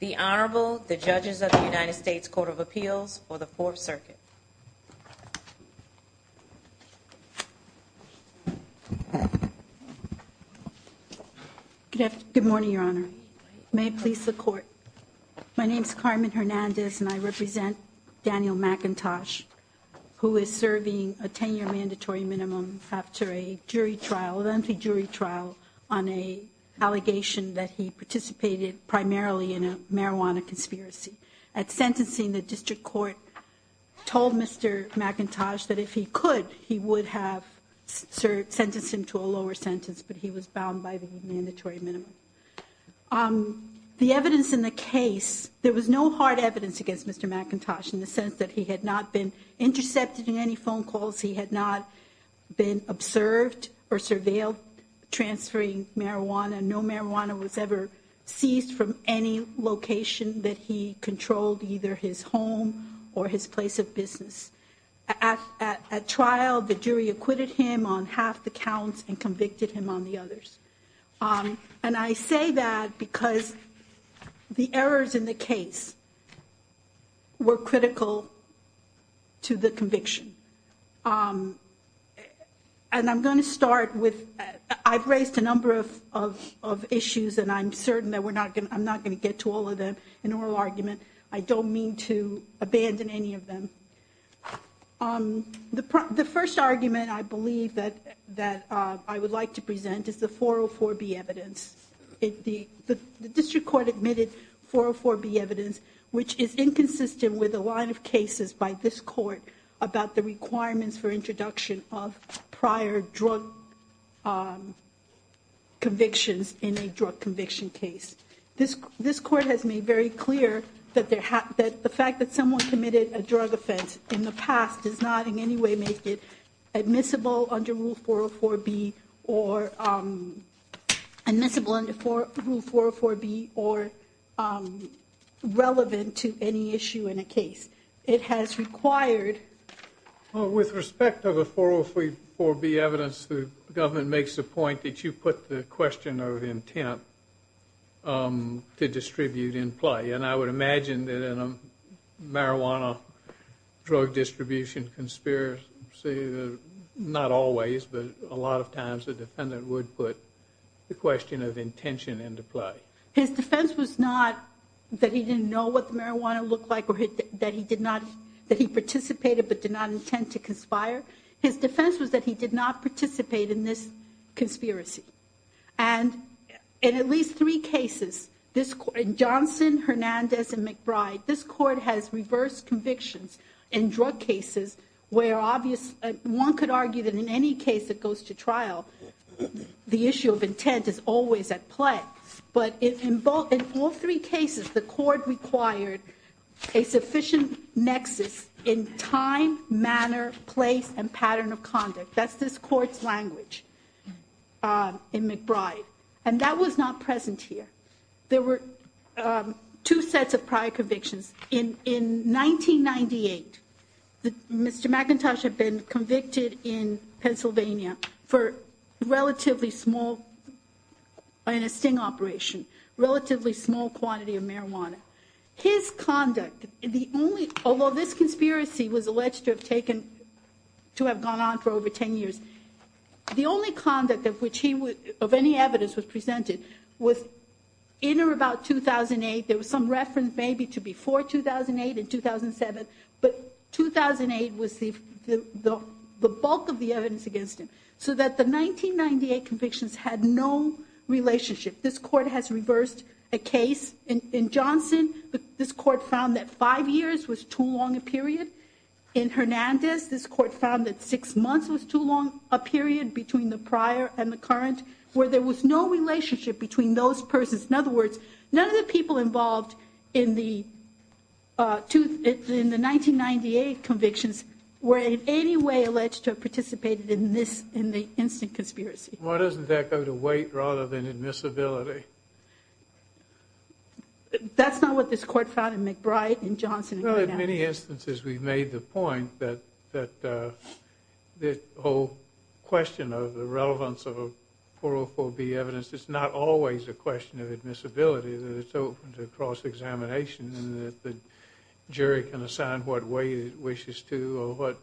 The Honorable, the Judges of the United States Court of Appeals for the Fourth Circuit. Good morning, Your Honor. May it please the Court. My name is Carmen Hernandez and I represent Daniel McIntosh, who is serving a 10-year mandatory minimum after a jury trial, a lengthy allegation that he participated primarily in a marijuana conspiracy. At sentencing, the District Court told Mr. McIntosh that if he could, he would have sentenced him to a lower sentence, but he was bound by the mandatory minimum. The evidence in the case, there was no hard evidence against Mr. McIntosh in the sense that he had not been intercepted in any phone calls, he had not been observed or surveilled transferring marijuana, no marijuana was ever seized from any location that he controlled, either his home or his place of business. At trial, the jury acquitted him on half the counts and convicted him on the others. And I say that because the errors in the case were critical to the conviction. And I'm going to start with, I've raised a number of issues and I'm certain that I'm not going to get to all of them in oral argument. I don't mean to abandon any of them. The first argument I believe that I would like present is the 404B evidence. The District Court admitted 404B evidence, which is inconsistent with a line of cases by this court about the requirements for introduction of prior drug convictions in a drug conviction case. This court has made very clear that the fact that someone committed a drug conviction is either inadmissible under Rule 404B or relevant to any issue in a case. It has required... Well, with respect to the 404B evidence, the government makes the point that you put the question of intent to distribute in play. And I would imagine that in a marijuana drug distribution conspiracy, not always, but a lot of times the defendant would put the question of intention into play. His defense was not that he didn't know what the marijuana looked like or that he participated but did not intend to conspire. His defense was that he did not participate in this conspiracy. And in at least three cases, in Johnson, Hernandez, and McBride, this court has reversed convictions in drug cases where one could argue that in any case that goes to trial, the issue of intent is always at play. But in all three cases, the court required a sufficient nexus in time, manner, place, and pattern of conduct. That's this court's language in McBride. And that was not present here. There were two sets of prior convictions. In 1998, Mr. McIntosh had been convicted in Pennsylvania in a sting operation, relatively small quantity of marijuana. His conduct, although this conspiracy was alleged to have gone on for over 10 years, the only conduct of which any evidence was presented was in or about 2008. There was some reference maybe to before 2008 and 2007, but 2008 was the bulk of the evidence against him. So that the 1998 convictions had no relationship. This court has reversed a case in Johnson. This court found that five years was too long a period in Hernandez. This court found that six months was too long a period between the prior and the current where there was no relationship between those persons. In other words, none of the people involved in the 1998 convictions were in any way alleged to have participated in this, in the instant conspiracy. Why doesn't that go to wait rather than admissibility? That's not what this court found in McBride, in Johnson. Well, in many instances we've made the point that the whole question of the relevance of a 404B evidence is not always a question of admissibility, that it's open to cross-examination and that the jury can assign what weight it wishes to or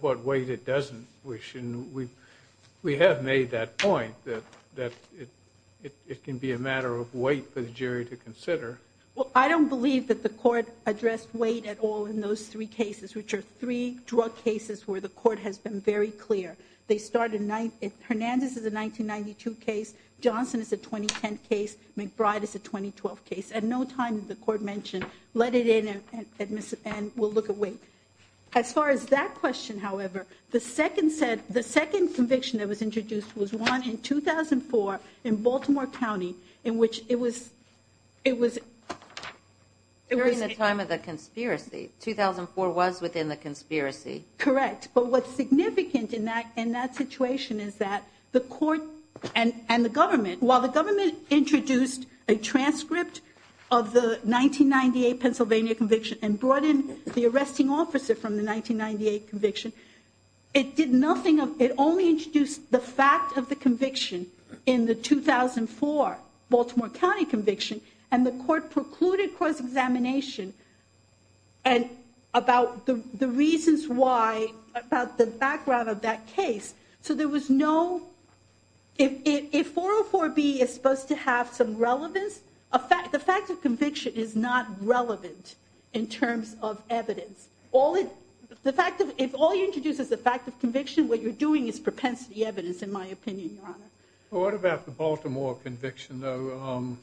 what weight it doesn't wish. And we have made that point that it can be a matter of wait for the jury to consider. Well, I don't believe that the court addressed weight at all in those three cases, which are three drug cases where the court has been very clear. They started, Hernandez is a 1992 case, Johnson is a 2010 case, McBride is a 2012 case. At no time did the court mention, let it in and we'll look at weight. As far as that question, however, the second conviction that was introduced was one in 2004 in Baltimore County. During the time of the conspiracy, 2004 was within the conspiracy. Correct. But what's significant in that situation is that the court and the government, while the government introduced a transcript of the 1998 Pennsylvania conviction and brought in the arresting officer from the 1998 conviction, it only introduced the fact of the conviction in the 2004 Baltimore County conviction. And the court precluded cross-examination and about the reasons why, about the background of that case. So there was no, if 404B is supposed to have some relevance, the fact of conviction is not relevant in terms of evidence. If all you introduce is the fact of conviction, what you're doing is propensity evidence in my opinion, Your Honor. What about the Baltimore conviction though?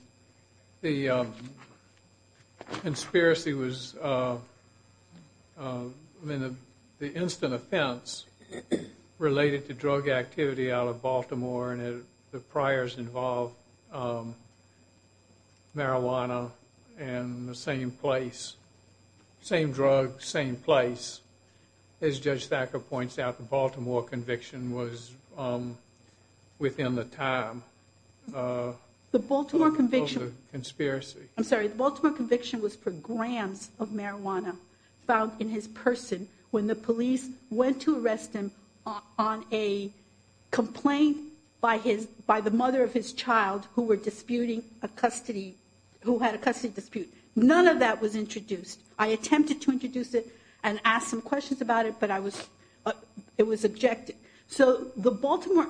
The conspiracy was, I mean the instant offense related to drug activity out of Baltimore and the priors involved marijuana and the same place, same drug, same place. As Judge Thacker points out, the Baltimore conviction was within the time of the conspiracy. I'm sorry, the Baltimore conviction was for grams of marijuana found in his person when the police went to arrest him on a complaint by the mother of his child who had a custody dispute. None of that was introduced. I it was objected. So the Baltimore,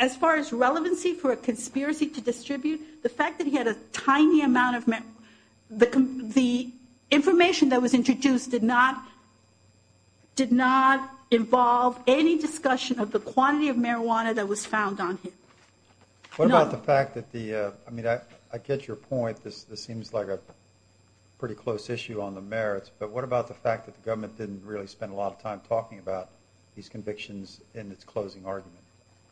as far as relevancy for a conspiracy to distribute, the fact that he had a tiny amount of marijuana, the information that was introduced did not involve any discussion of the quantity of marijuana that was found on him. What about the fact that the, I mean I get your point, this seems like a pretty close issue on the merits, but what about the fact that the government didn't really spend a lot of time talking about these convictions in its closing argument?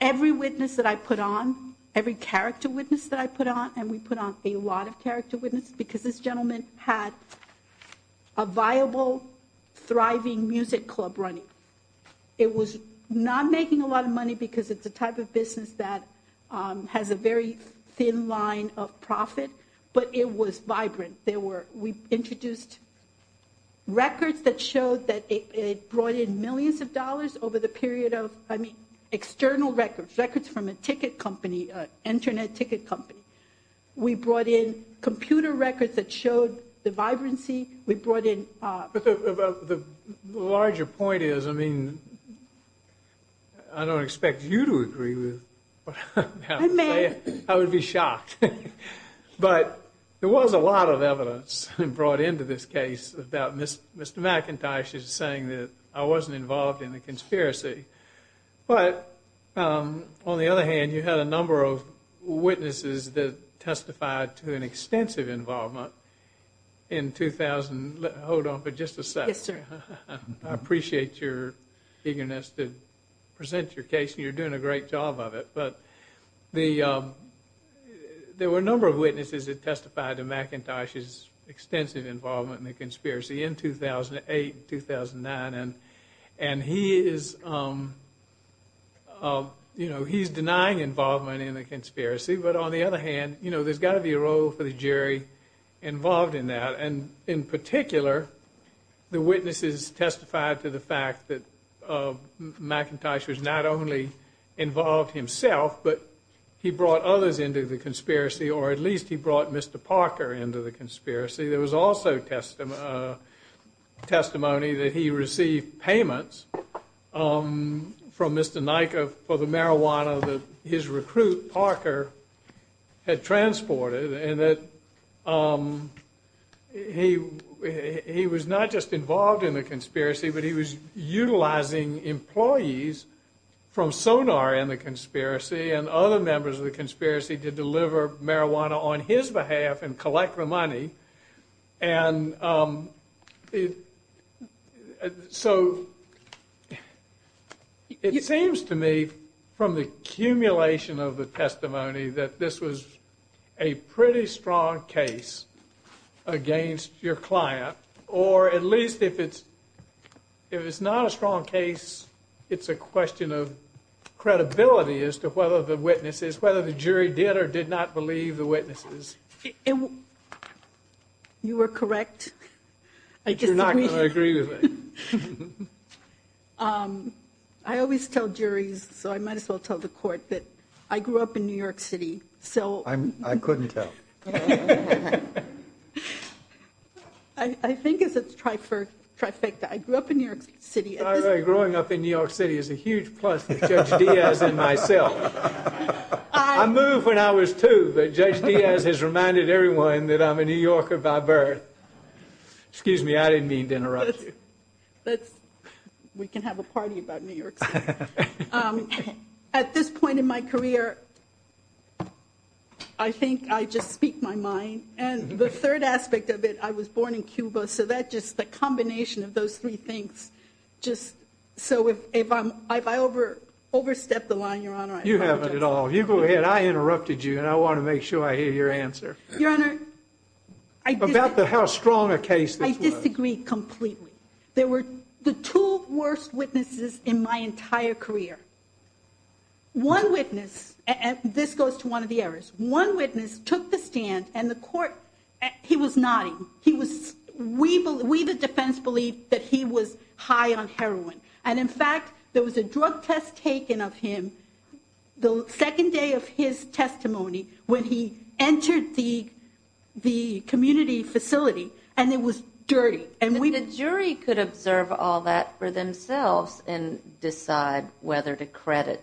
Every witness that I put on, every character witness that I put on, and we put on a lot of character witnesses because this gentleman had a viable, thriving music club running. It was not making a lot of money because it's a type of business that has a very thin line of profit, but it was vibrant. There were, we over the period of, I mean, external records, records from a ticket company, an internet ticket company. We brought in computer records that showed the vibrancy. We brought in- But the larger point is, I mean, I don't expect you to agree with what I'm about to say. I would be shocked. But there was a lot of evidence brought into this case about Mr. McIntosh saying that I wasn't involved in the conspiracy, but on the other hand, you had a number of witnesses that testified to an extensive involvement in 2000. Hold on for just a second. Yes, sir. I appreciate your eagerness to present your case. You're doing a great job of it, but there were a number of witnesses that testified to McIntosh's extensive involvement in the conspiracy in 2008, 2009, and he is, you know, he's denying involvement in the conspiracy, but on the other hand, you know, there's got to be a role for the jury involved in that, and in particular, the witnesses testified to the fact that McIntosh was not only involved himself, but he brought others into the conspiracy, or at least he brought Mr. Parker into the conspiracy. There was also testimony that he received payments from Mr. Nika for the marijuana that his recruit, Parker, had transported, and that he was not just involved in the conspiracy, but he was utilizing employees from Sonar in the conspiracy and other members of the conspiracy to deliver marijuana on his behalf and collect the So it seems to me from the accumulation of the testimony that this was a pretty strong case against your client, or at least if it's not a strong case, it's a question of credibility as to whether the witnesses, whether the jury did or did not believe the witnesses. You were correct. I disagree. You're not going to agree with me. I always tell juries, so I might as well tell the court, that I grew up in New York City, so... I couldn't tell. I think it's a trifecta. I grew up in New York City. By the way, growing up in New York City is a huge plus for Judge Diaz and myself. I moved when I was two, but Judge Diaz has reminded everyone that I'm a New Yorker by birth. Excuse me, I didn't mean to interrupt you. We can have a party about New York City. At this point in my career, I think I just speak my mind, and the third aspect of it, I was born in Cuba, so that just, the combination of those three things, just, so if I overstep the line, Your Honor, I apologize. You haven't at all. You go ahead. I interrupted you, and I want to make sure I hear your answer. Your Honor, I disagree. About how strong a case this was. I disagree completely. There were the two worst witnesses in my entire career. One witness, and this goes to one of the errors, one witness took the stand, and the court, he was nodding. He was, we the defense believed that he was high on heroin, and in fact, there was a drug test taken of him the second day of his testimony when he entered the community facility, and it was dirty. And the jury could observe all that for themselves and decide whether to credit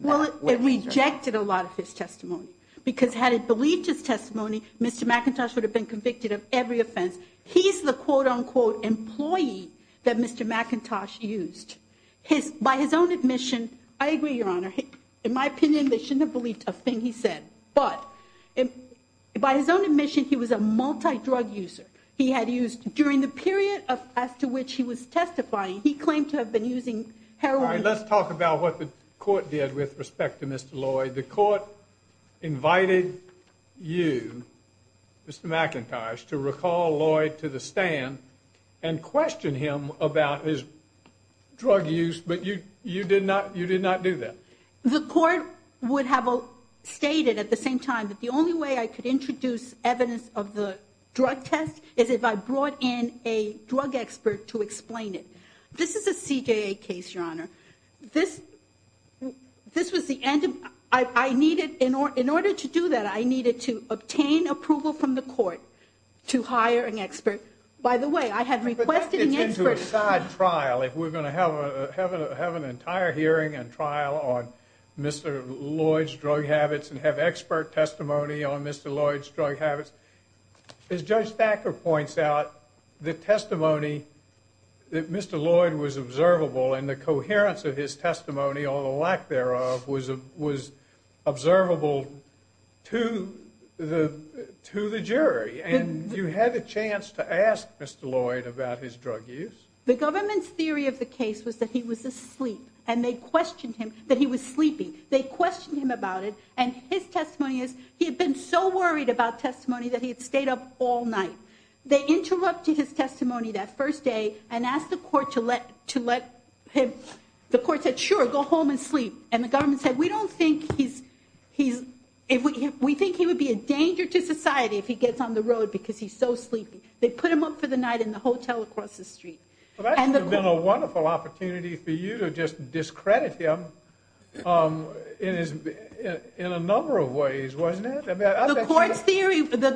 that witness. Well, it rejected a lot of his testimony, because had it believed his testimony, Mr. McIntosh would have been convicted of every offense. He's the quote unquote employee that Mr. McIntosh used. By his own admission, I agree, Your Honor, in my opinion, they shouldn't have believed a thing he said. But by his own admission, he was a multi-drug user. He had used, during the period after which he was testifying, he claimed to have been using heroin. Let's talk about what the court did with respect to Mr. Lloyd. The court invited you, Mr. McIntosh, to recall Lloyd to the stand and question him about his drug use, but you did not do that. The court would have stated at the same time that the only way I could introduce evidence of the drug test is if I brought in a drug expert to explain it. This was the end of, I needed, in order to do that, I needed to obtain approval from the court to hire an expert. By the way, I had requested an expert. But that gets into a side trial, if we're going to have an entire hearing and trial on Mr. Lloyd's drug habits and have expert testimony on Mr. Lloyd's drug habits. As Judge Thacker points out, the testimony that Mr. Lloyd was observable and the coherence of his testimony, all the lack thereof, was observable to the jury. And you had a chance to ask Mr. Lloyd about his drug use. The government's theory of the case was that he was asleep and they questioned him, that he was sleeping. They questioned him about it. And his testimony is he had been so worried about testimony that he had stayed up all night. They interrupted his testimony that first day and asked the court to let him, the court said, sure, go home and sleep. And the government said, we don't think he's, we think he would be a danger to society if he gets on the road because he's so sleepy. That would have been a wonderful opportunity for you to just discredit him in a number of ways, wasn't it? The court's theory, the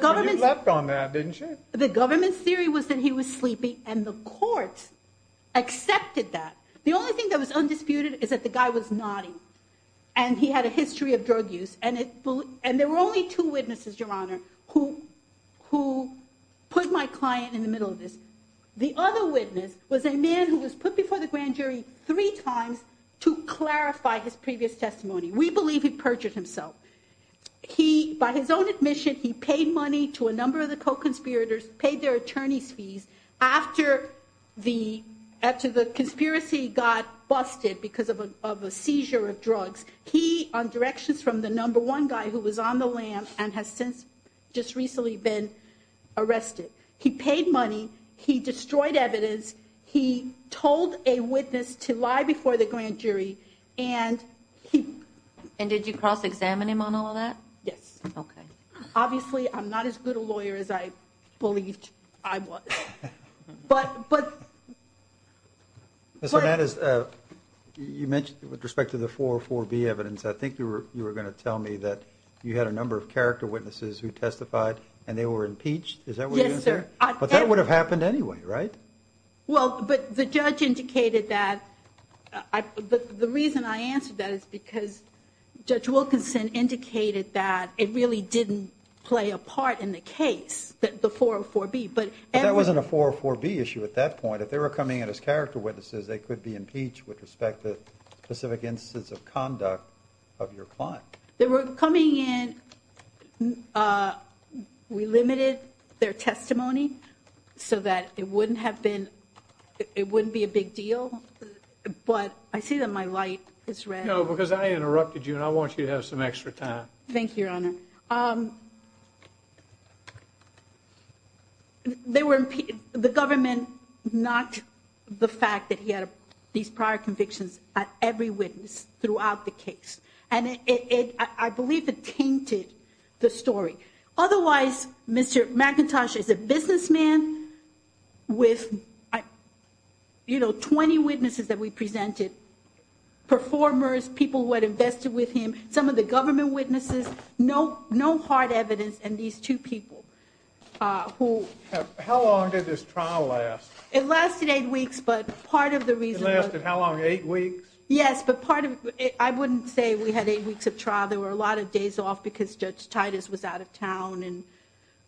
government's theory was that he was sleepy and the courts accepted that. The only thing that was undisputed is that the guy was naughty and he had a history of drug use and there were only two witnesses, Your Honor, who put my client in the middle of this. The other witness was a man who was put before the grand jury three times to clarify his previous testimony. We believe he perjured himself. By his own admission, he paid money to a number of the co-conspirators, paid their attorney's fees. After the conspiracy got busted because of a seizure of drugs, he, on directions from the number one guy who was on the lam and has since just recently been arrested, he destroyed evidence. He told a witness to lie before the grand jury and he... And did you cross-examine him on all of that? Yes. Okay. Obviously, I'm not as good a lawyer as I believed I was. But, but... Ms. Hernandez, you mentioned with respect to the 404B evidence, I think you were going to tell me that you had a number of character witnesses who testified and they were impeached. Is that what you're saying? Yes, sir. But that would have happened anyway, right? Well, but the judge indicated that... The reason I answered that is because Judge Wilkinson indicated that it really didn't play a part in the case, the 404B. But that wasn't a 404B issue at that point. If they were coming in as character witnesses, they could be impeached with respect to specific instances of conduct of your client. They were coming in... We limited their testimony so that it wouldn't have been... It wouldn't be a big deal. But I see that my light is red. No, because I interrupted you and I want you to have some extra time. Thank you, Your Honor. They were impeached... The government knocked the fact that he had these prior convictions at every witness throughout the case. And I believe it tainted the story. Otherwise, Mr. McIntosh is a businessman with 20 witnesses that we presented, performers, people who had invested with him, some of the government witnesses, no hard evidence, and these two people who... How long did this trial last? It lasted eight weeks, but part of the reason... It lasted how long? Eight weeks? Yes, but part of... I wouldn't say we had eight weeks of trial. There were a lot of days off because Judge Titus was out of town and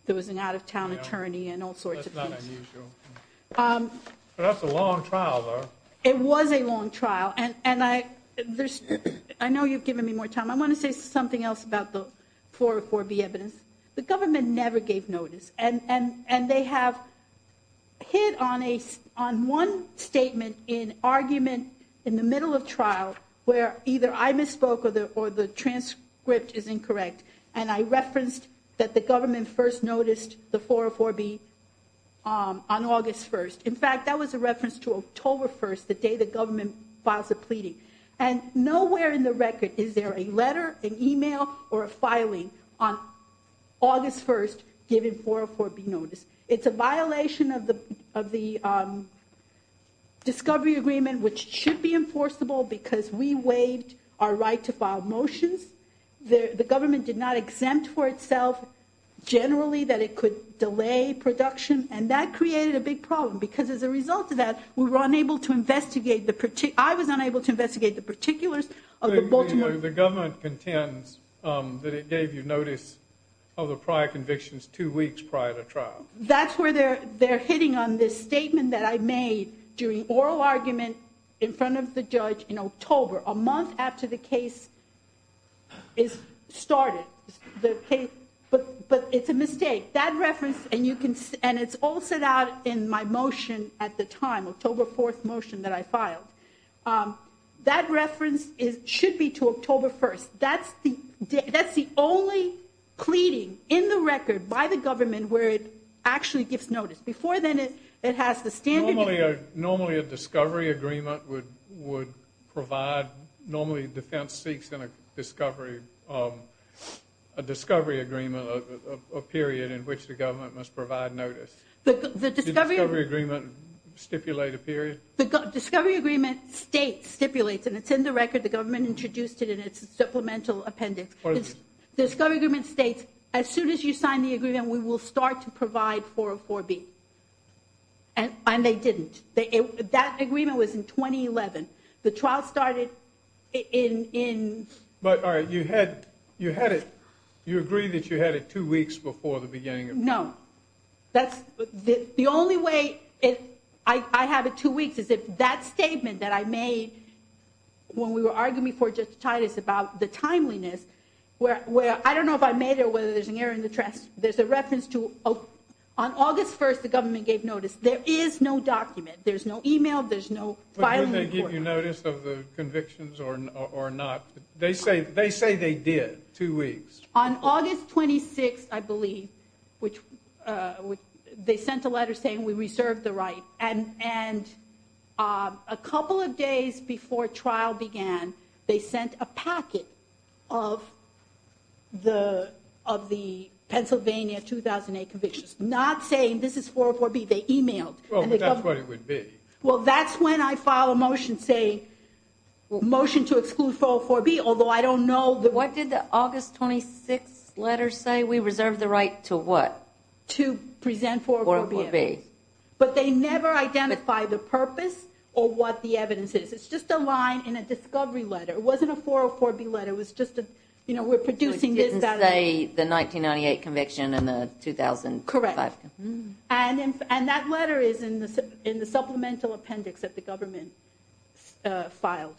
there was an out of town attorney and all sorts of things. That's not unusual. But that's a long trial, though. It was a long trial. I know you've given me more time. I want to say something else about the 404B evidence. The government never gave notice and they have hit on one statement in argument in the middle of trial where either I misspoke or the transcript is incorrect. And I referenced that the government first noticed the 404B on August 1st. In fact, that was a reference to October 1st, the day the government files a pleading. And nowhere in the record is there a letter, an email, or a filing on August 1st given 404B notice. It's a violation of the discovery agreement, which should be enforceable because we waived our right to file motions. The government did not exempt for itself generally that it could delay production. And that created a big problem because as a result of that, we were unable to investigate the... I was unable to investigate the particulars of the Baltimore... The government contends that it gave you notice of the prior convictions two weeks prior to trial. That's where they're hitting on this statement that I made during oral argument in front of the judge in October, a month after the case is started. But it's a mistake. That reference... And it's all set out in my motion at the time, October 4th motion that I filed. That reference should be to October 1st. That's the only pleading in the record by the government where it actually gives notice. Before then, it has the standard... Normally, a discovery agreement would provide... Normally, defense seeks in a discovery agreement a period in which the government must provide notice. But the discovery agreement stipulate a period? The discovery agreement state stipulates, and it's in the record. The government introduced it in its supplemental appendix. The discovery agreement states, as soon as you sign the agreement, we will start to provide 404B. And they didn't. That agreement was in 2011. The trial started in... But you had it... You agree that you had it two weeks before the beginning of... No. That's... The only way I have it two weeks is if that statement that I made when we were arguing for justice about the timeliness, where... I don't know if I made it or whether there's an error in the track. There's a reference to... On August 1st, the government gave notice. There is no document. There's no email. There's no filing report. But did they give you notice of the convictions or not? They say they did. Two weeks. On August 26th, I believe, they sent a letter saying we reserved the right. And a couple of days before trial began, they sent a packet of the Pennsylvania 2008 convictions, not saying this is 404B. They emailed. Well, but that's what it would be. Well, that's when I file a motion saying... Motion to exclude 404B, although I don't know the... What did the August 26th letter say? We reserved the right to what? To present 404B. But they never identify the purpose or what the evidence is. It's just a line in a discovery letter. It wasn't a 404B letter. It was just a... You know, we're producing this... It didn't say the 1998 conviction and the 2005. Correct. And that letter is in the supplemental appendix that the government filed.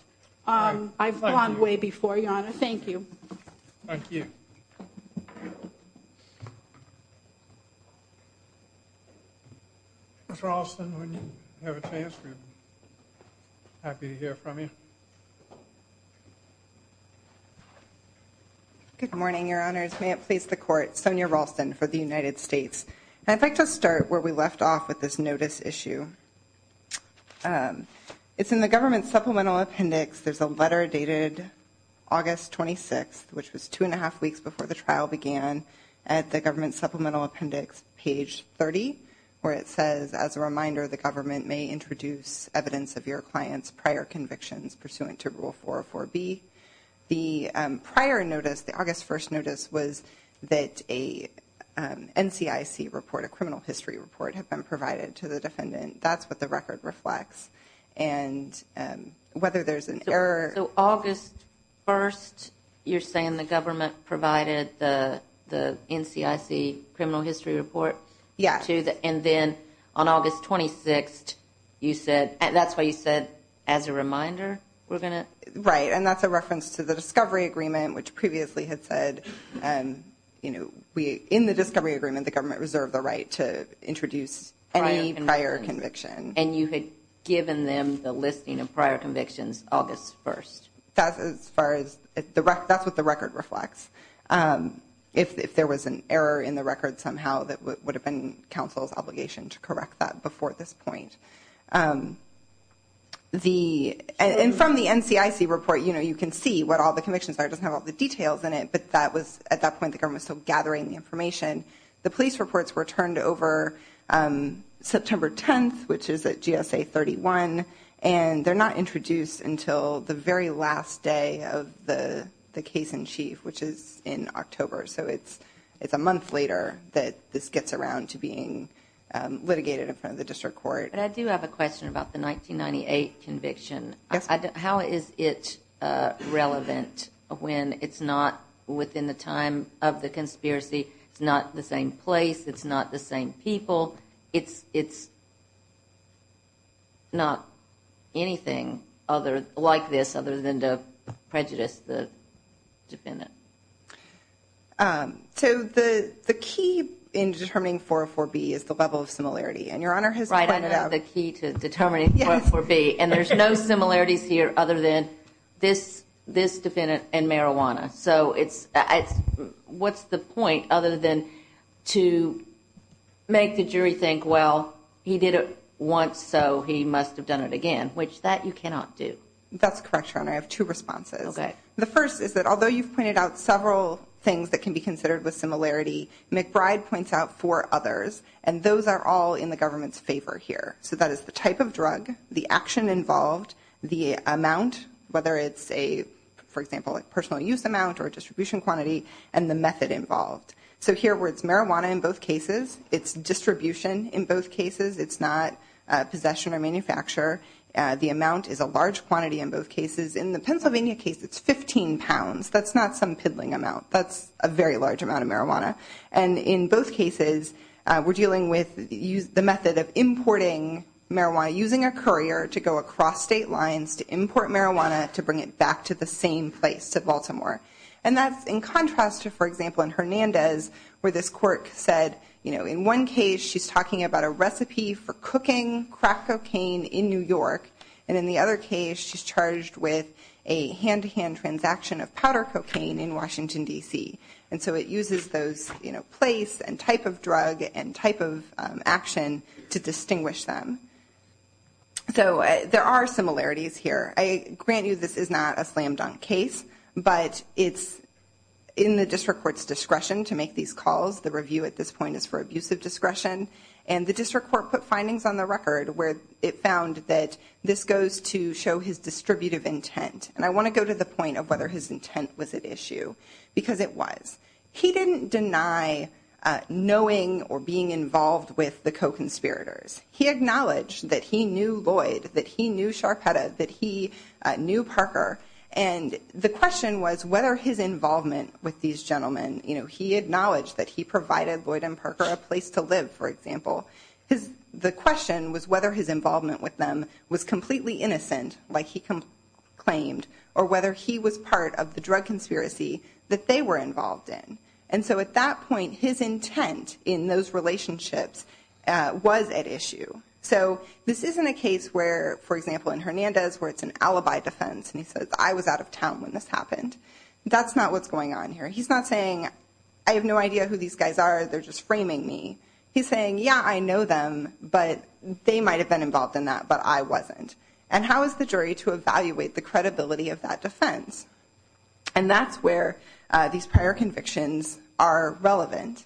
I've gone way before, Your Honor. Thank you. Thank you. Ms. Ralston, when you have a chance, we're happy to hear from you. Good morning, Your Honors. May it please the Court, Sonia Ralston for the United States. And I'd like to start where we left off with this notice issue. It's in the government supplemental appendix. There's a letter dated August 26th, which was two and a half weeks before the trial began, at the government supplemental appendix, page 30, where it says, as a reminder, the government may introduce evidence of your client's prior convictions pursuant to Rule 404B. The prior notice, the August 1st notice, was that a NCIC report, a criminal history report, had been provided to the defendant. That's what the record reflects. And whether there's an error... August 1st, you're saying the government provided the NCIC criminal history report? Yes. And then on August 26th, that's what you said, as a reminder, we're going to... Right. And that's a reference to the discovery agreement, which previously had said, in the discovery agreement, the government reserved the right to introduce any prior conviction. And you had given them the listing of prior convictions, August 1st? That's as far as... That's what the record reflects. If there was an error in the record somehow, that would have been counsel's obligation to correct that before this point. And from the NCIC report, you can see what all the convictions are. It doesn't have all the details in it, but that was... At that point, the government was still gathering the information. The police reports were turned over September 10th, which is at GSA 31, and they're not introduced until the very last day of the case in chief, which is in October. So it's a month later that this gets around to being litigated in front of the district court. But I do have a question about the 1998 conviction. How is it relevant when it's not within the time of the conspiracy? It's not the same place. It's not the same people. It's not anything like this other than to prejudice the defendant. So the key in determining 404B is the level of similarity. And Your Honor has pointed out... Right. I know the key to determining 404B. And there's no similarities here other than this defendant and marijuana. So what's the point other than to make the jury think, well, he did it once, so he must have done it again, which that you cannot do. That's correct, Your Honor. I have two responses. Okay. The first is that although you've pointed out several things that can be considered with similarity, McBride points out four others, and those are all in the government's favor here. So that is the type of drug, the action involved, the amount, whether it's a, for example, personal use amount or distribution quantity, and the method involved. So here where it's marijuana in both cases, it's distribution in both cases. It's not possession or manufacture. The amount is a large quantity in both cases. In the Pennsylvania case, it's 15 pounds. That's not some piddling amount. That's a very large amount of marijuana. And in both cases, we're dealing with the method of importing marijuana, using a courier to go across state lines to import marijuana to bring it back to the same place, to Baltimore. And that's in contrast to, for example, in Hernandez, where this court said, you know, in one case, she's talking about a recipe for cooking crack cocaine in New York, and in the other case, she's charged with a hand-to-hand transaction of powder cocaine in Washington, D.C. And so it uses those, you know, place and type of drug and type of action to distinguish them. So there are similarities here. I grant you this is not a slam-dunk case, but it's in the district court's discretion to make these calls. The review at this point is for abusive discretion. And the district court put findings on the record where it found that this goes to show his distributive intent. And I want to go to the point of whether his intent was at issue, because it was. He didn't deny knowing or being involved with the co-conspirators. He acknowledged that he knew Lloyd, that he knew Sharpetta, that he knew Parker. And the question was whether his involvement with these gentlemen, you know, he acknowledged that he provided Lloyd and Parker a place to live, for example. The question was whether his involvement with them was completely innocent, like he claimed, or whether he was part of the drug conspiracy that they were involved in. And so at that point, his intent in those relationships was at issue. So this isn't a case where, for example, in Hernandez, where it's an alibi defense, and he says, I was out of town when this happened. That's not what's going on here. He's not saying, I have no idea who these guys are. They're just framing me. He's saying, yeah, I know them, but they might have been involved in that, but I wasn't. And how is the jury to evaluate the credibility of that defense? And that's where these prior convictions are relevant.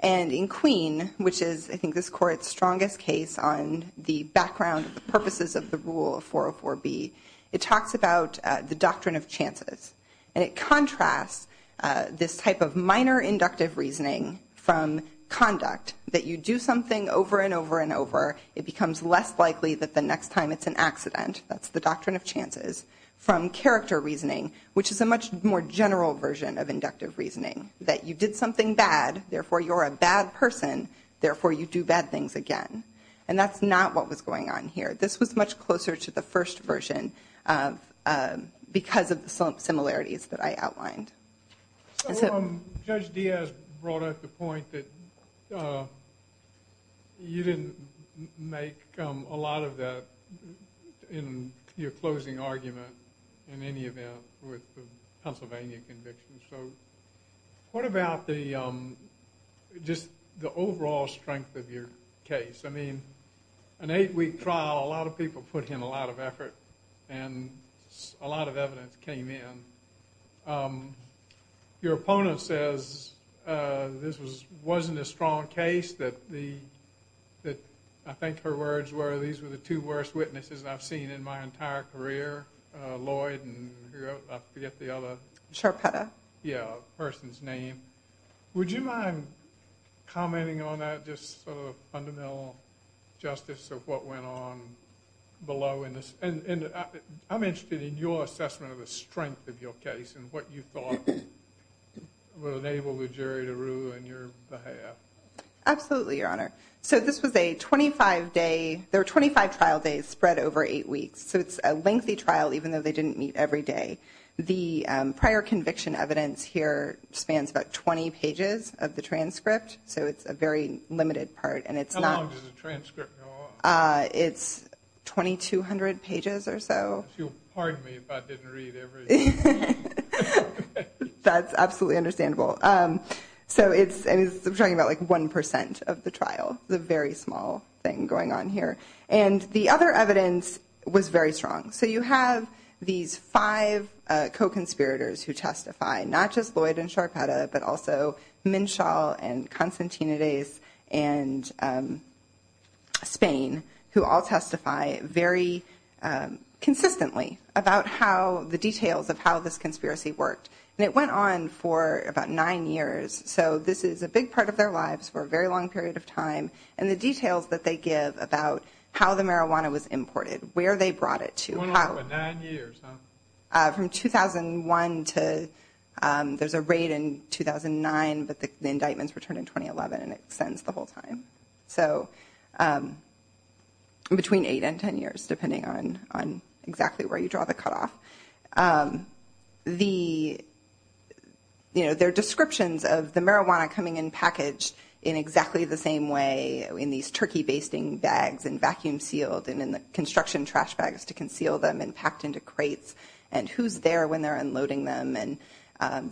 And in Queen, which is, I think, this Court's strongest case on the background, the purposes of the rule of 404B, it talks about the doctrine of chances. And it contrasts this type of minor inductive reasoning from conduct, that you do something over and over and over, it becomes less likely that the next time it's an accident, that's the doctrine of chances, from character reasoning, which is a much more general version of inductive reasoning, that you did something bad, therefore you're a bad person, therefore you do bad things again. And that's not what was going on here. This was much closer to the first version because of the similarities that I outlined. So Judge Diaz brought up the point that you didn't make a lot of that in your closing argument, in any event, with the Pennsylvania convictions. So what about just the overall strength of your case? I mean, an eight-week trial, a lot of people put in a lot of effort, and a lot of evidence came in. Your opponent says this wasn't a strong case, that I think her words were, these were the two worst witnesses I've seen in my entire career, Lloyd and I forget the other person's name. Would you mind commenting on that, just sort of fundamental justice of what went on below? I'm interested in your assessment of the strength of your case, and what you thought would enable the jury to rule in your behalf. Absolutely, Your Honor. So this was a 25-day, there were 25 trial days spread over eight weeks. So it's a lengthy trial, even though they didn't meet every day. The prior conviction evidence here spans about 20 pages of the transcript. So it's a very limited part, and it's not... How long does the transcript go on? It's 2,200 pages or so. Pardon me if I didn't read everything. That's absolutely understandable. So it's talking about like 1% of the trial, the very small thing going on here. And the other evidence was very strong. So you have these five co-conspirators who testify, not just Lloyd and Sharpetta, but also Minshaw and Constantinides and Spain, who all testify very consistently about the details of how this conspiracy worked. And it went on for about nine years. So this is a big part of their lives for a very long period of time. And the details that they give about how the marijuana was imported, where they brought it to. It went on for nine years, huh? From 2001 to... There's a raid in 2009, but the indictments returned in 2011, and it extends the whole time. So between eight and 10 years, depending on exactly where you draw the cutoff. The... You know, their descriptions of the marijuana coming in packaged in exactly the same way, in these turkey basting bags and vacuum sealed and in the construction trash bags to conceal them and packed into crates, and who's there when they're unloading them. And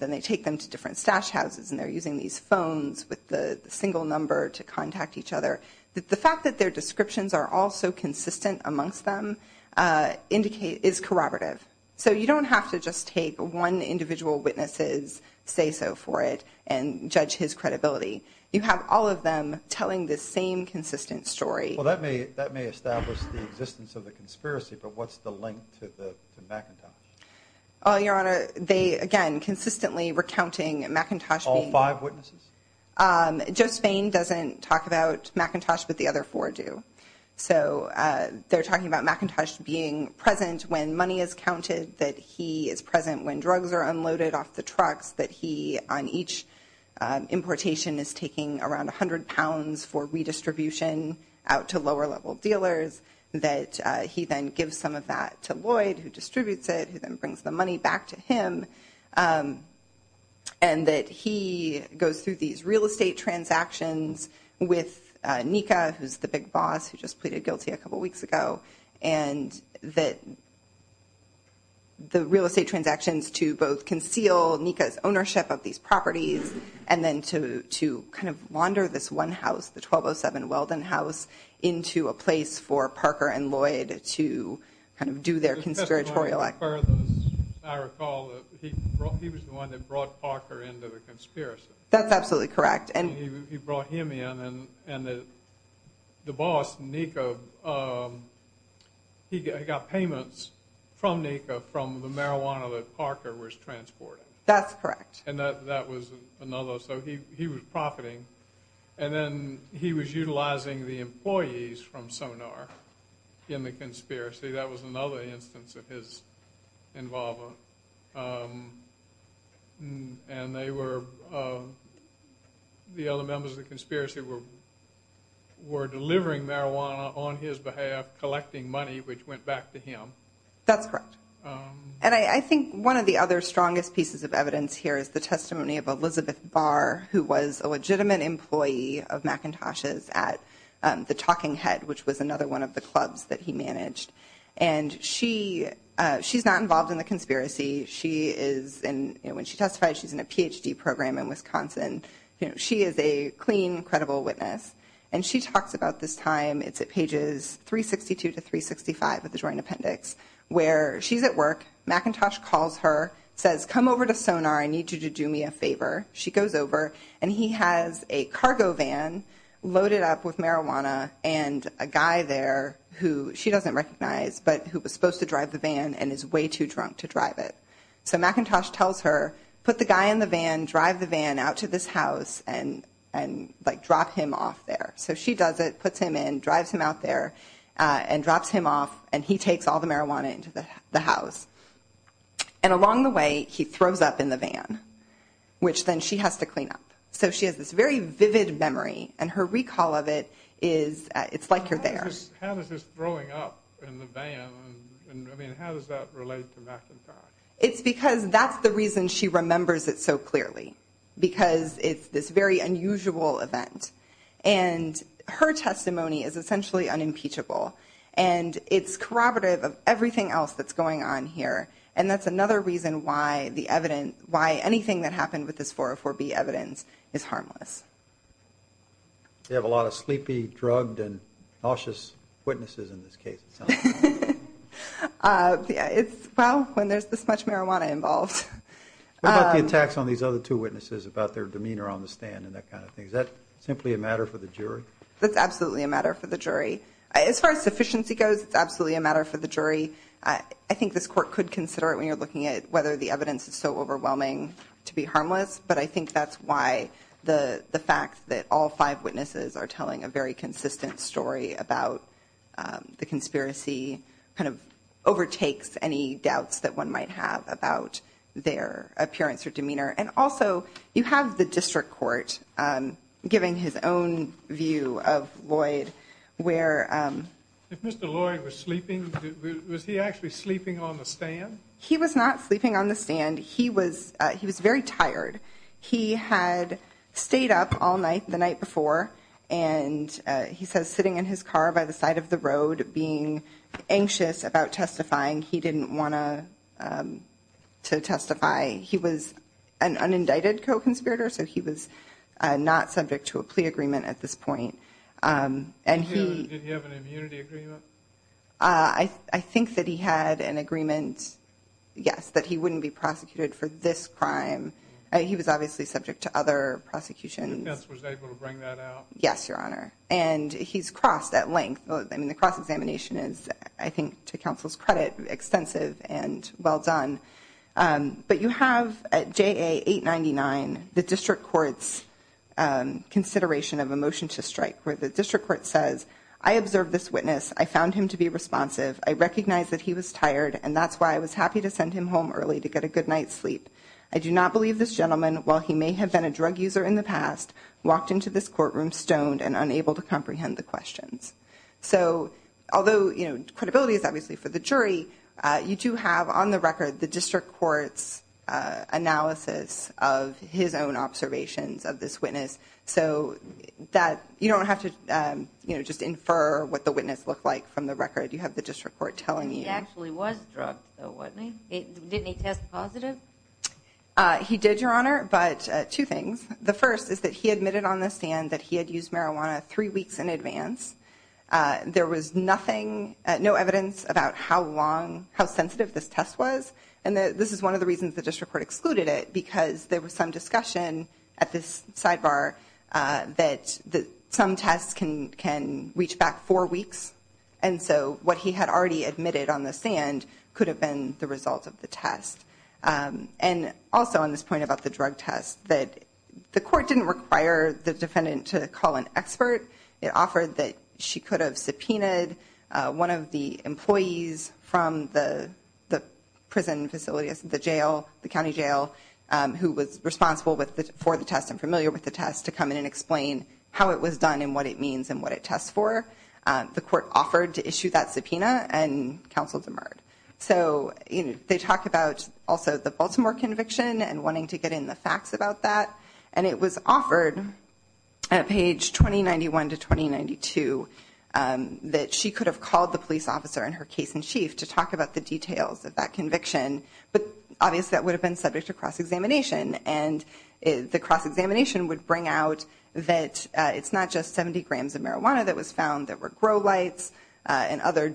then they take them to different stash houses, and they're using these phones with the single number to contact each other. The fact that their descriptions are all so consistent amongst them is corroborative. So you don't have to just take one individual witness's say-so for it and judge his credibility. You have all of them telling the same consistent story. That may establish the existence of the conspiracy, but what's the link to Macintosh? Your Honor, they, again, consistently recounting Macintosh being... All five witnesses? Joe Spain doesn't talk about Macintosh, but the other four do. So they're talking about Macintosh being present when money is counted, that he is present when drugs are unloaded off the trucks, that he, on each importation, is taking around 100 pounds for redistribution out to lower-level dealers, that he then gives some of that to Lloyd, who distributes it, who then brings the money back to him, and that he goes through these real estate transactions with Nika, who's the big boss, who just pleaded guilty a couple weeks ago, and that the real estate transactions to both conceal Nika's ownership of these properties, and then to kind of launder this one house, the 1207 Weldon House, into a place for Parker and Lloyd to kind of do their conspiratorial act. Just as far as I recall, he was the one that brought Parker into the conspiracy. That's absolutely correct. And he brought him in, and the boss, Nika, he got payments from Nika from the marijuana that Parker was transporting. That's correct. And that was another, so he was profiting, and then he was utilizing the employees from Sonar in the conspiracy. That was another instance of his involvement, and they were, the other members of the conspiracy were delivering marijuana on his behalf, collecting money, which went back to him. That's correct. And I think one of the other strongest pieces of evidence here is the testimony of Elizabeth Barr, who was a legitimate employee of McIntosh's at the Talking Head, which was another one of the clubs that he managed. And she's not involved in the conspiracy. She is, when she testified, she's in a PhD program in Wisconsin. She is a clean, credible witness, and she talks about this time, it's at pages 362 to 365 of the Joint Appendix, where she's at work. McIntosh calls her, says, come over to Sonar. I need you to do me a favor. She goes over, and he has a cargo van loaded up with marijuana and a guy there who she doesn't recognize, but who was supposed to drive the van and is way too drunk to drive it. So McIntosh tells her, put the guy in the van, drive the van out to this house, and drop him off there. So she does it, puts him in, drives him out there, and drops him off, and he takes all the marijuana into the house. And along the way, he throws up in the van, which then she has to clean up. So she has this very vivid memory, and her recall of it is, it's like you're there. How is this throwing up in the van, and I mean, how does that relate to McIntosh? It's because that's the reason she remembers it so clearly, because it's this very unusual event. And her testimony is essentially unimpeachable, and it's corroborative of everything else that's going on here. And that's another reason why the evidence, why anything that happened with this 404B evidence is harmless. They have a lot of sleepy, drugged, and nauseous witnesses in this case, it sounds like. It's, well, when there's this much marijuana involved. What about the attacks on these other two witnesses about their demeanor on the stand and that kind of thing? Is that simply a matter for the jury? That's absolutely a matter for the jury. As far as sufficiency goes, it's absolutely a matter for the jury. I think this court could consider it when you're looking at whether the evidence is so overwhelming to be harmless, but I think that's why the fact that all five witnesses are telling a very consistent story about the conspiracy kind of overtakes any doubts that one might have about their appearance or demeanor. And also, you have the district court giving his own view of Lloyd, where... If Mr. Lloyd was sleeping, was he actually sleeping on the stand? He was not sleeping on the stand. He was very tired. He had stayed up all night the night before, and he says sitting in his car by the side of the road, being anxious about testifying, he didn't want to testify. He was an unindicted co-conspirator, so he was not subject to a plea agreement at this point, and he... Did he have an immunity agreement? I think that he had an agreement, yes, that he wouldn't be prosecuted for this crime. He was obviously subject to other prosecutions. The defense was able to bring that out? Yes, Your Honor. And he's crossed at length. I mean, the cross-examination is, I think, to counsel's credit, extensive and well done. But you have, at JA 899, the district court's consideration of a motion to strike, where the district court says, I observed this witness. I found him to be responsive. I recognized that he was tired, and that's why I was happy to send him home early to get a good night's sleep. I do not believe this gentleman, while he may have been a drug user in the past, walked into this courtroom stoned and unable to comprehend the questions. So although, you know, credibility is obviously for the jury, you do have, on the record, the district court's analysis of his own observations of this witness. So that you don't have to, you know, just infer what the witness looked like from the record. You have the district court telling you. He actually was drugged, though, wasn't he? Didn't he test positive? He did, Your Honor, but two things. The first is that he admitted on the stand that he had used marijuana three weeks in advance. There was nothing, no evidence about how long, how sensitive this test was. And this is one of the reasons the district court excluded it, because there was some discussion at this sidebar that some tests can reach back four weeks, and so what he had already admitted on the stand could have been the result of the test. And also, on this point about the drug test, that the court didn't require the defendant to call an expert. It offered that she could have subpoenaed one of the employees from the prison facility, the jail, the county jail, who was responsible for the test and familiar with the test, to come in and explain how it was done and what it means and what it tests for. The court offered to issue that subpoena, and counsel demurred. So they talk about also the Baltimore conviction and wanting to get in the facts about that. And it was offered at page 2091 to 2092 that she could have called the police officer in her case in chief to talk about the details of that conviction, but obviously that would have been subject to cross-examination. And the cross-examination would bring out that it's not just 70 grams of marijuana that was found. There were grow lights and other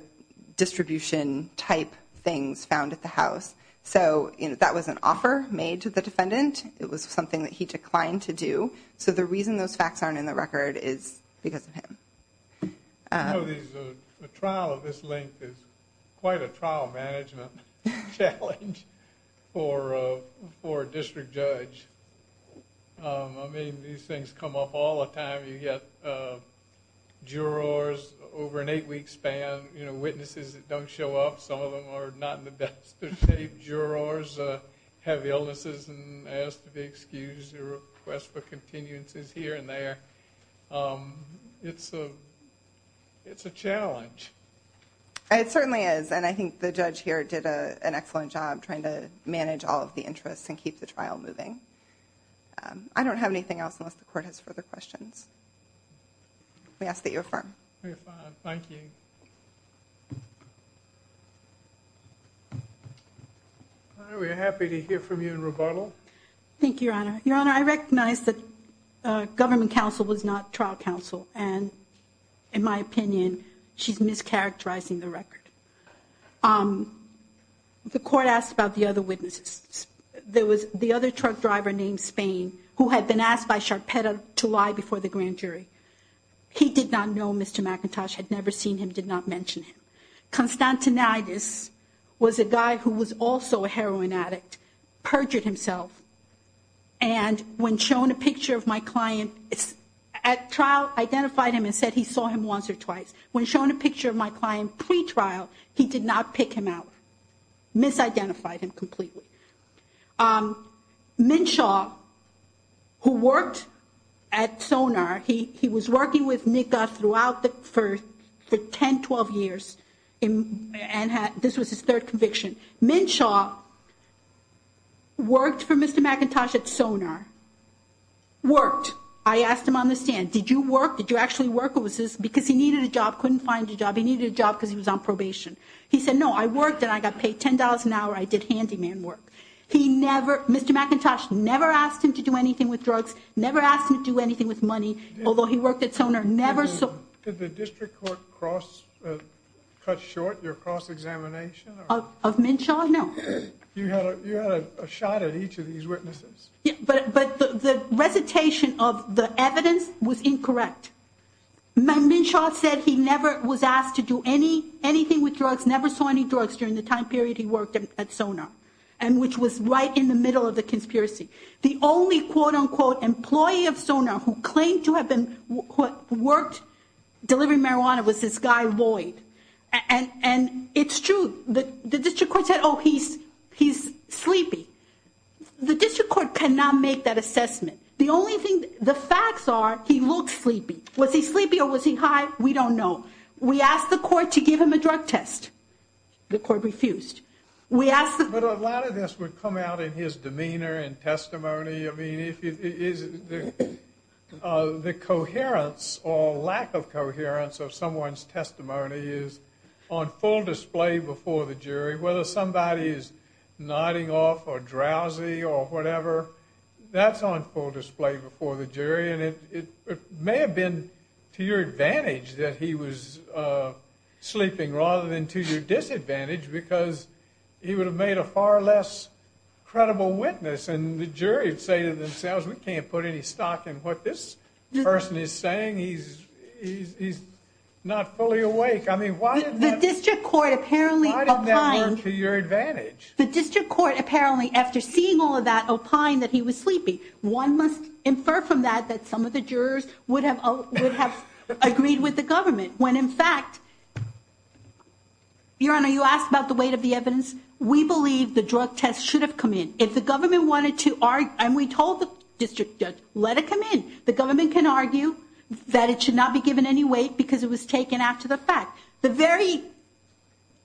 distribution-type things found at the house. So that was an offer made to the defendant. It was something that he declined to do. So the reason those facts aren't in the record is because of him. I know a trial of this length is quite a trial management challenge for a district judge. I mean, these things come up all the time. You get jurors over an eight-week span, witnesses that don't show up. Some of them are not in the best of shape. Jurors have illnesses and ask to be excused or request for continuances here and there. It's a challenge. It certainly is. And I think the judge here did an excellent job trying to manage all of the interests and keep the trial moving. I don't have anything else unless the court has further questions. We ask that you affirm. Very fine. Thank you. We're happy to hear from you in rebuttal. Thank you, Your Honor. Your Honor, I recognize that government counsel was not trial counsel. And in my opinion, she's mischaracterizing the record. The court asked about the other witnesses. There was the other truck driver named Spain who had been asked by Sharpeta to lie before the grand jury. He did not know Mr. McIntosh, had never seen him, did not mention him. Constantinidis was a guy who was also a heroin addict, perjured himself. And when shown a picture of my client at trial, identified him and said he saw him once or twice. When shown a picture of my client pre-trial, he did not pick him out, misidentified him completely. Minshaw, who worked at Sonar, he was working with NICA throughout the first 10, 12 years and this was his third conviction. Minshaw worked for Mr. McIntosh at Sonar. Worked. I asked him on the stand, did you work? Did you actually work? What was this? Because he needed a job, couldn't find a job. He needed a job because he was on probation. He said, no, I worked and I got paid $10 an hour. I did handyman work. He never, Mr. McIntosh never asked him to do anything with drugs, never asked him to do anything with money, although he worked at Sonar. Did the district court cut short your cross-examination? Of Minshaw, no. You had a shot at each of these witnesses. But the recitation of the evidence was incorrect. Minshaw said he never was asked to do anything with drugs, never saw any drugs during the time period he worked at Sonar and which was right in the middle of the conspiracy. The only quote-unquote employee of Sonar who claimed to have worked delivering marijuana was this guy Lloyd. And it's true. The district court said, oh, he's sleepy. The district court cannot make that assessment. The only thing, the facts are he looked sleepy. Was he sleepy or was he high? We don't know. We asked the court to give him a drug test. The court refused. But a lot of this would come out in his demeanor and testimony. I mean, the coherence or lack of coherence of someone's testimony is on full display before the jury. Whether somebody is nodding off or drowsy or whatever, that's on full display before the jury. And it may have been to your advantage that he was sleeping rather than to your disadvantage because he would have made a far less credible witness. And the jury would say to themselves, we can't put any stock in what this person is saying. He's not fully awake. I mean, why didn't that work to your advantage? The district court apparently, after seeing all of that, opined that he was sleepy. One must infer from that that some of the jurors would have agreed with the government. When in fact, Your Honor, you asked about the weight of the evidence. We believe the drug test should have come in. If the government wanted to argue, and we told the district judge, let it come in. The government can argue that it should not be given any weight because it was taken after the fact. The very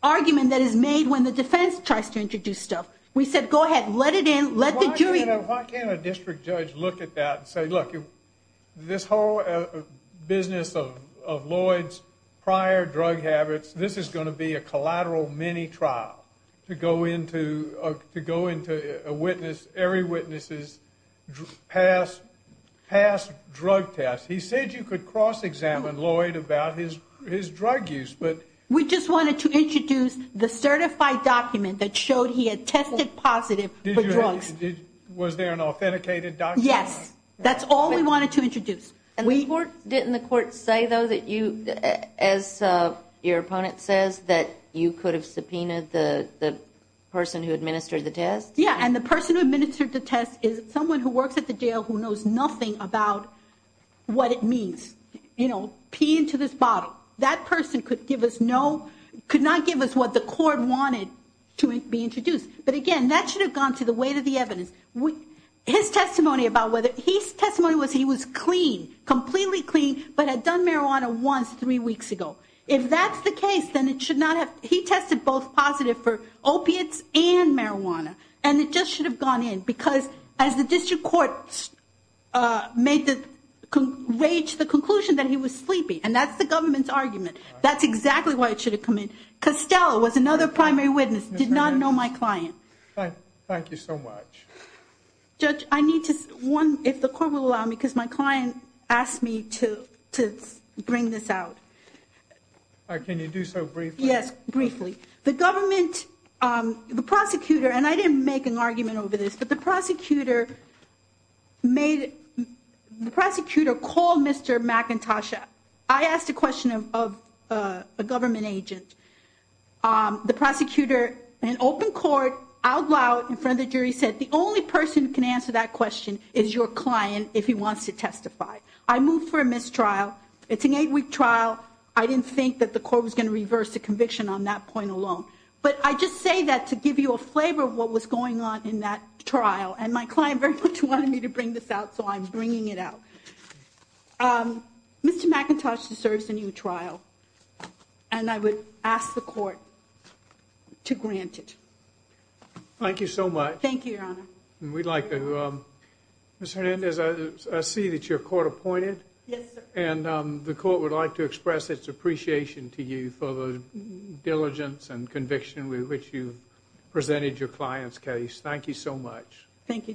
argument that is made when the defense tries to introduce stuff, we said, go ahead, let it in, let the jury. Why can't a district judge look at that and say, look, this whole business of Lloyd's prior drug habits, this is going to be a collateral mini-trial to go into a witness, every witness's past drug test. He said you could cross-examine Lloyd about his drug use, but. We just wanted to introduce the certified document that showed he had tested positive for drugs. Was there an authenticated document? Yes, that's all we wanted to introduce. Didn't the court say, though, that you, as your opponent says, that you could have subpoenaed the person who administered the test? Yeah, and the person who administered the test is someone who works at the jail who knows nothing about what it means. You know, pee into this bottle. That person could give us no, could not give us what the court wanted to be introduced. But again, that should have gone to the weight of the evidence. His testimony about whether he's testimony was he was clean, completely clean, but had done marijuana once three weeks ago. If that's the case, then it should not have. He tested both positive for opiates and marijuana, and it just should have gone in because as the district court made the rage, the conclusion that he was sleeping, and that's the government's argument. That's exactly why it should have come in. Costello was another primary witness, did not know my client. Thank you so much. Judge, I need to, one, if the court will allow me, because my client asked me to bring this out. Can you do so briefly? Yes, briefly. The government, the prosecutor, and I didn't make an argument over this, but the prosecutor made, the prosecutor called Mr. McIntosh. I asked a question of a government agent. The prosecutor, in open court, out loud in front of the jury said, the only person who can answer that question is your client if he wants to testify. I moved for a mistrial. It's an eight-week trial. I didn't think that the court was going to reverse the conviction on that point alone. But I just say that to give you a flavor of what was going on in that trial, and my client very much wanted me to bring this out, so I'm bringing it out. Um, Mr. McIntosh deserves a new trial, and I would ask the court to grant it. Thank you so much. Thank you, Your Honor. We'd like to, um, Ms. Hernandez, I see that you're court appointed. Yes, sir. And, um, the court would like to express its appreciation to you for the diligence and conviction with which you've presented your client's case. Thank you so much. Thank you, Judge.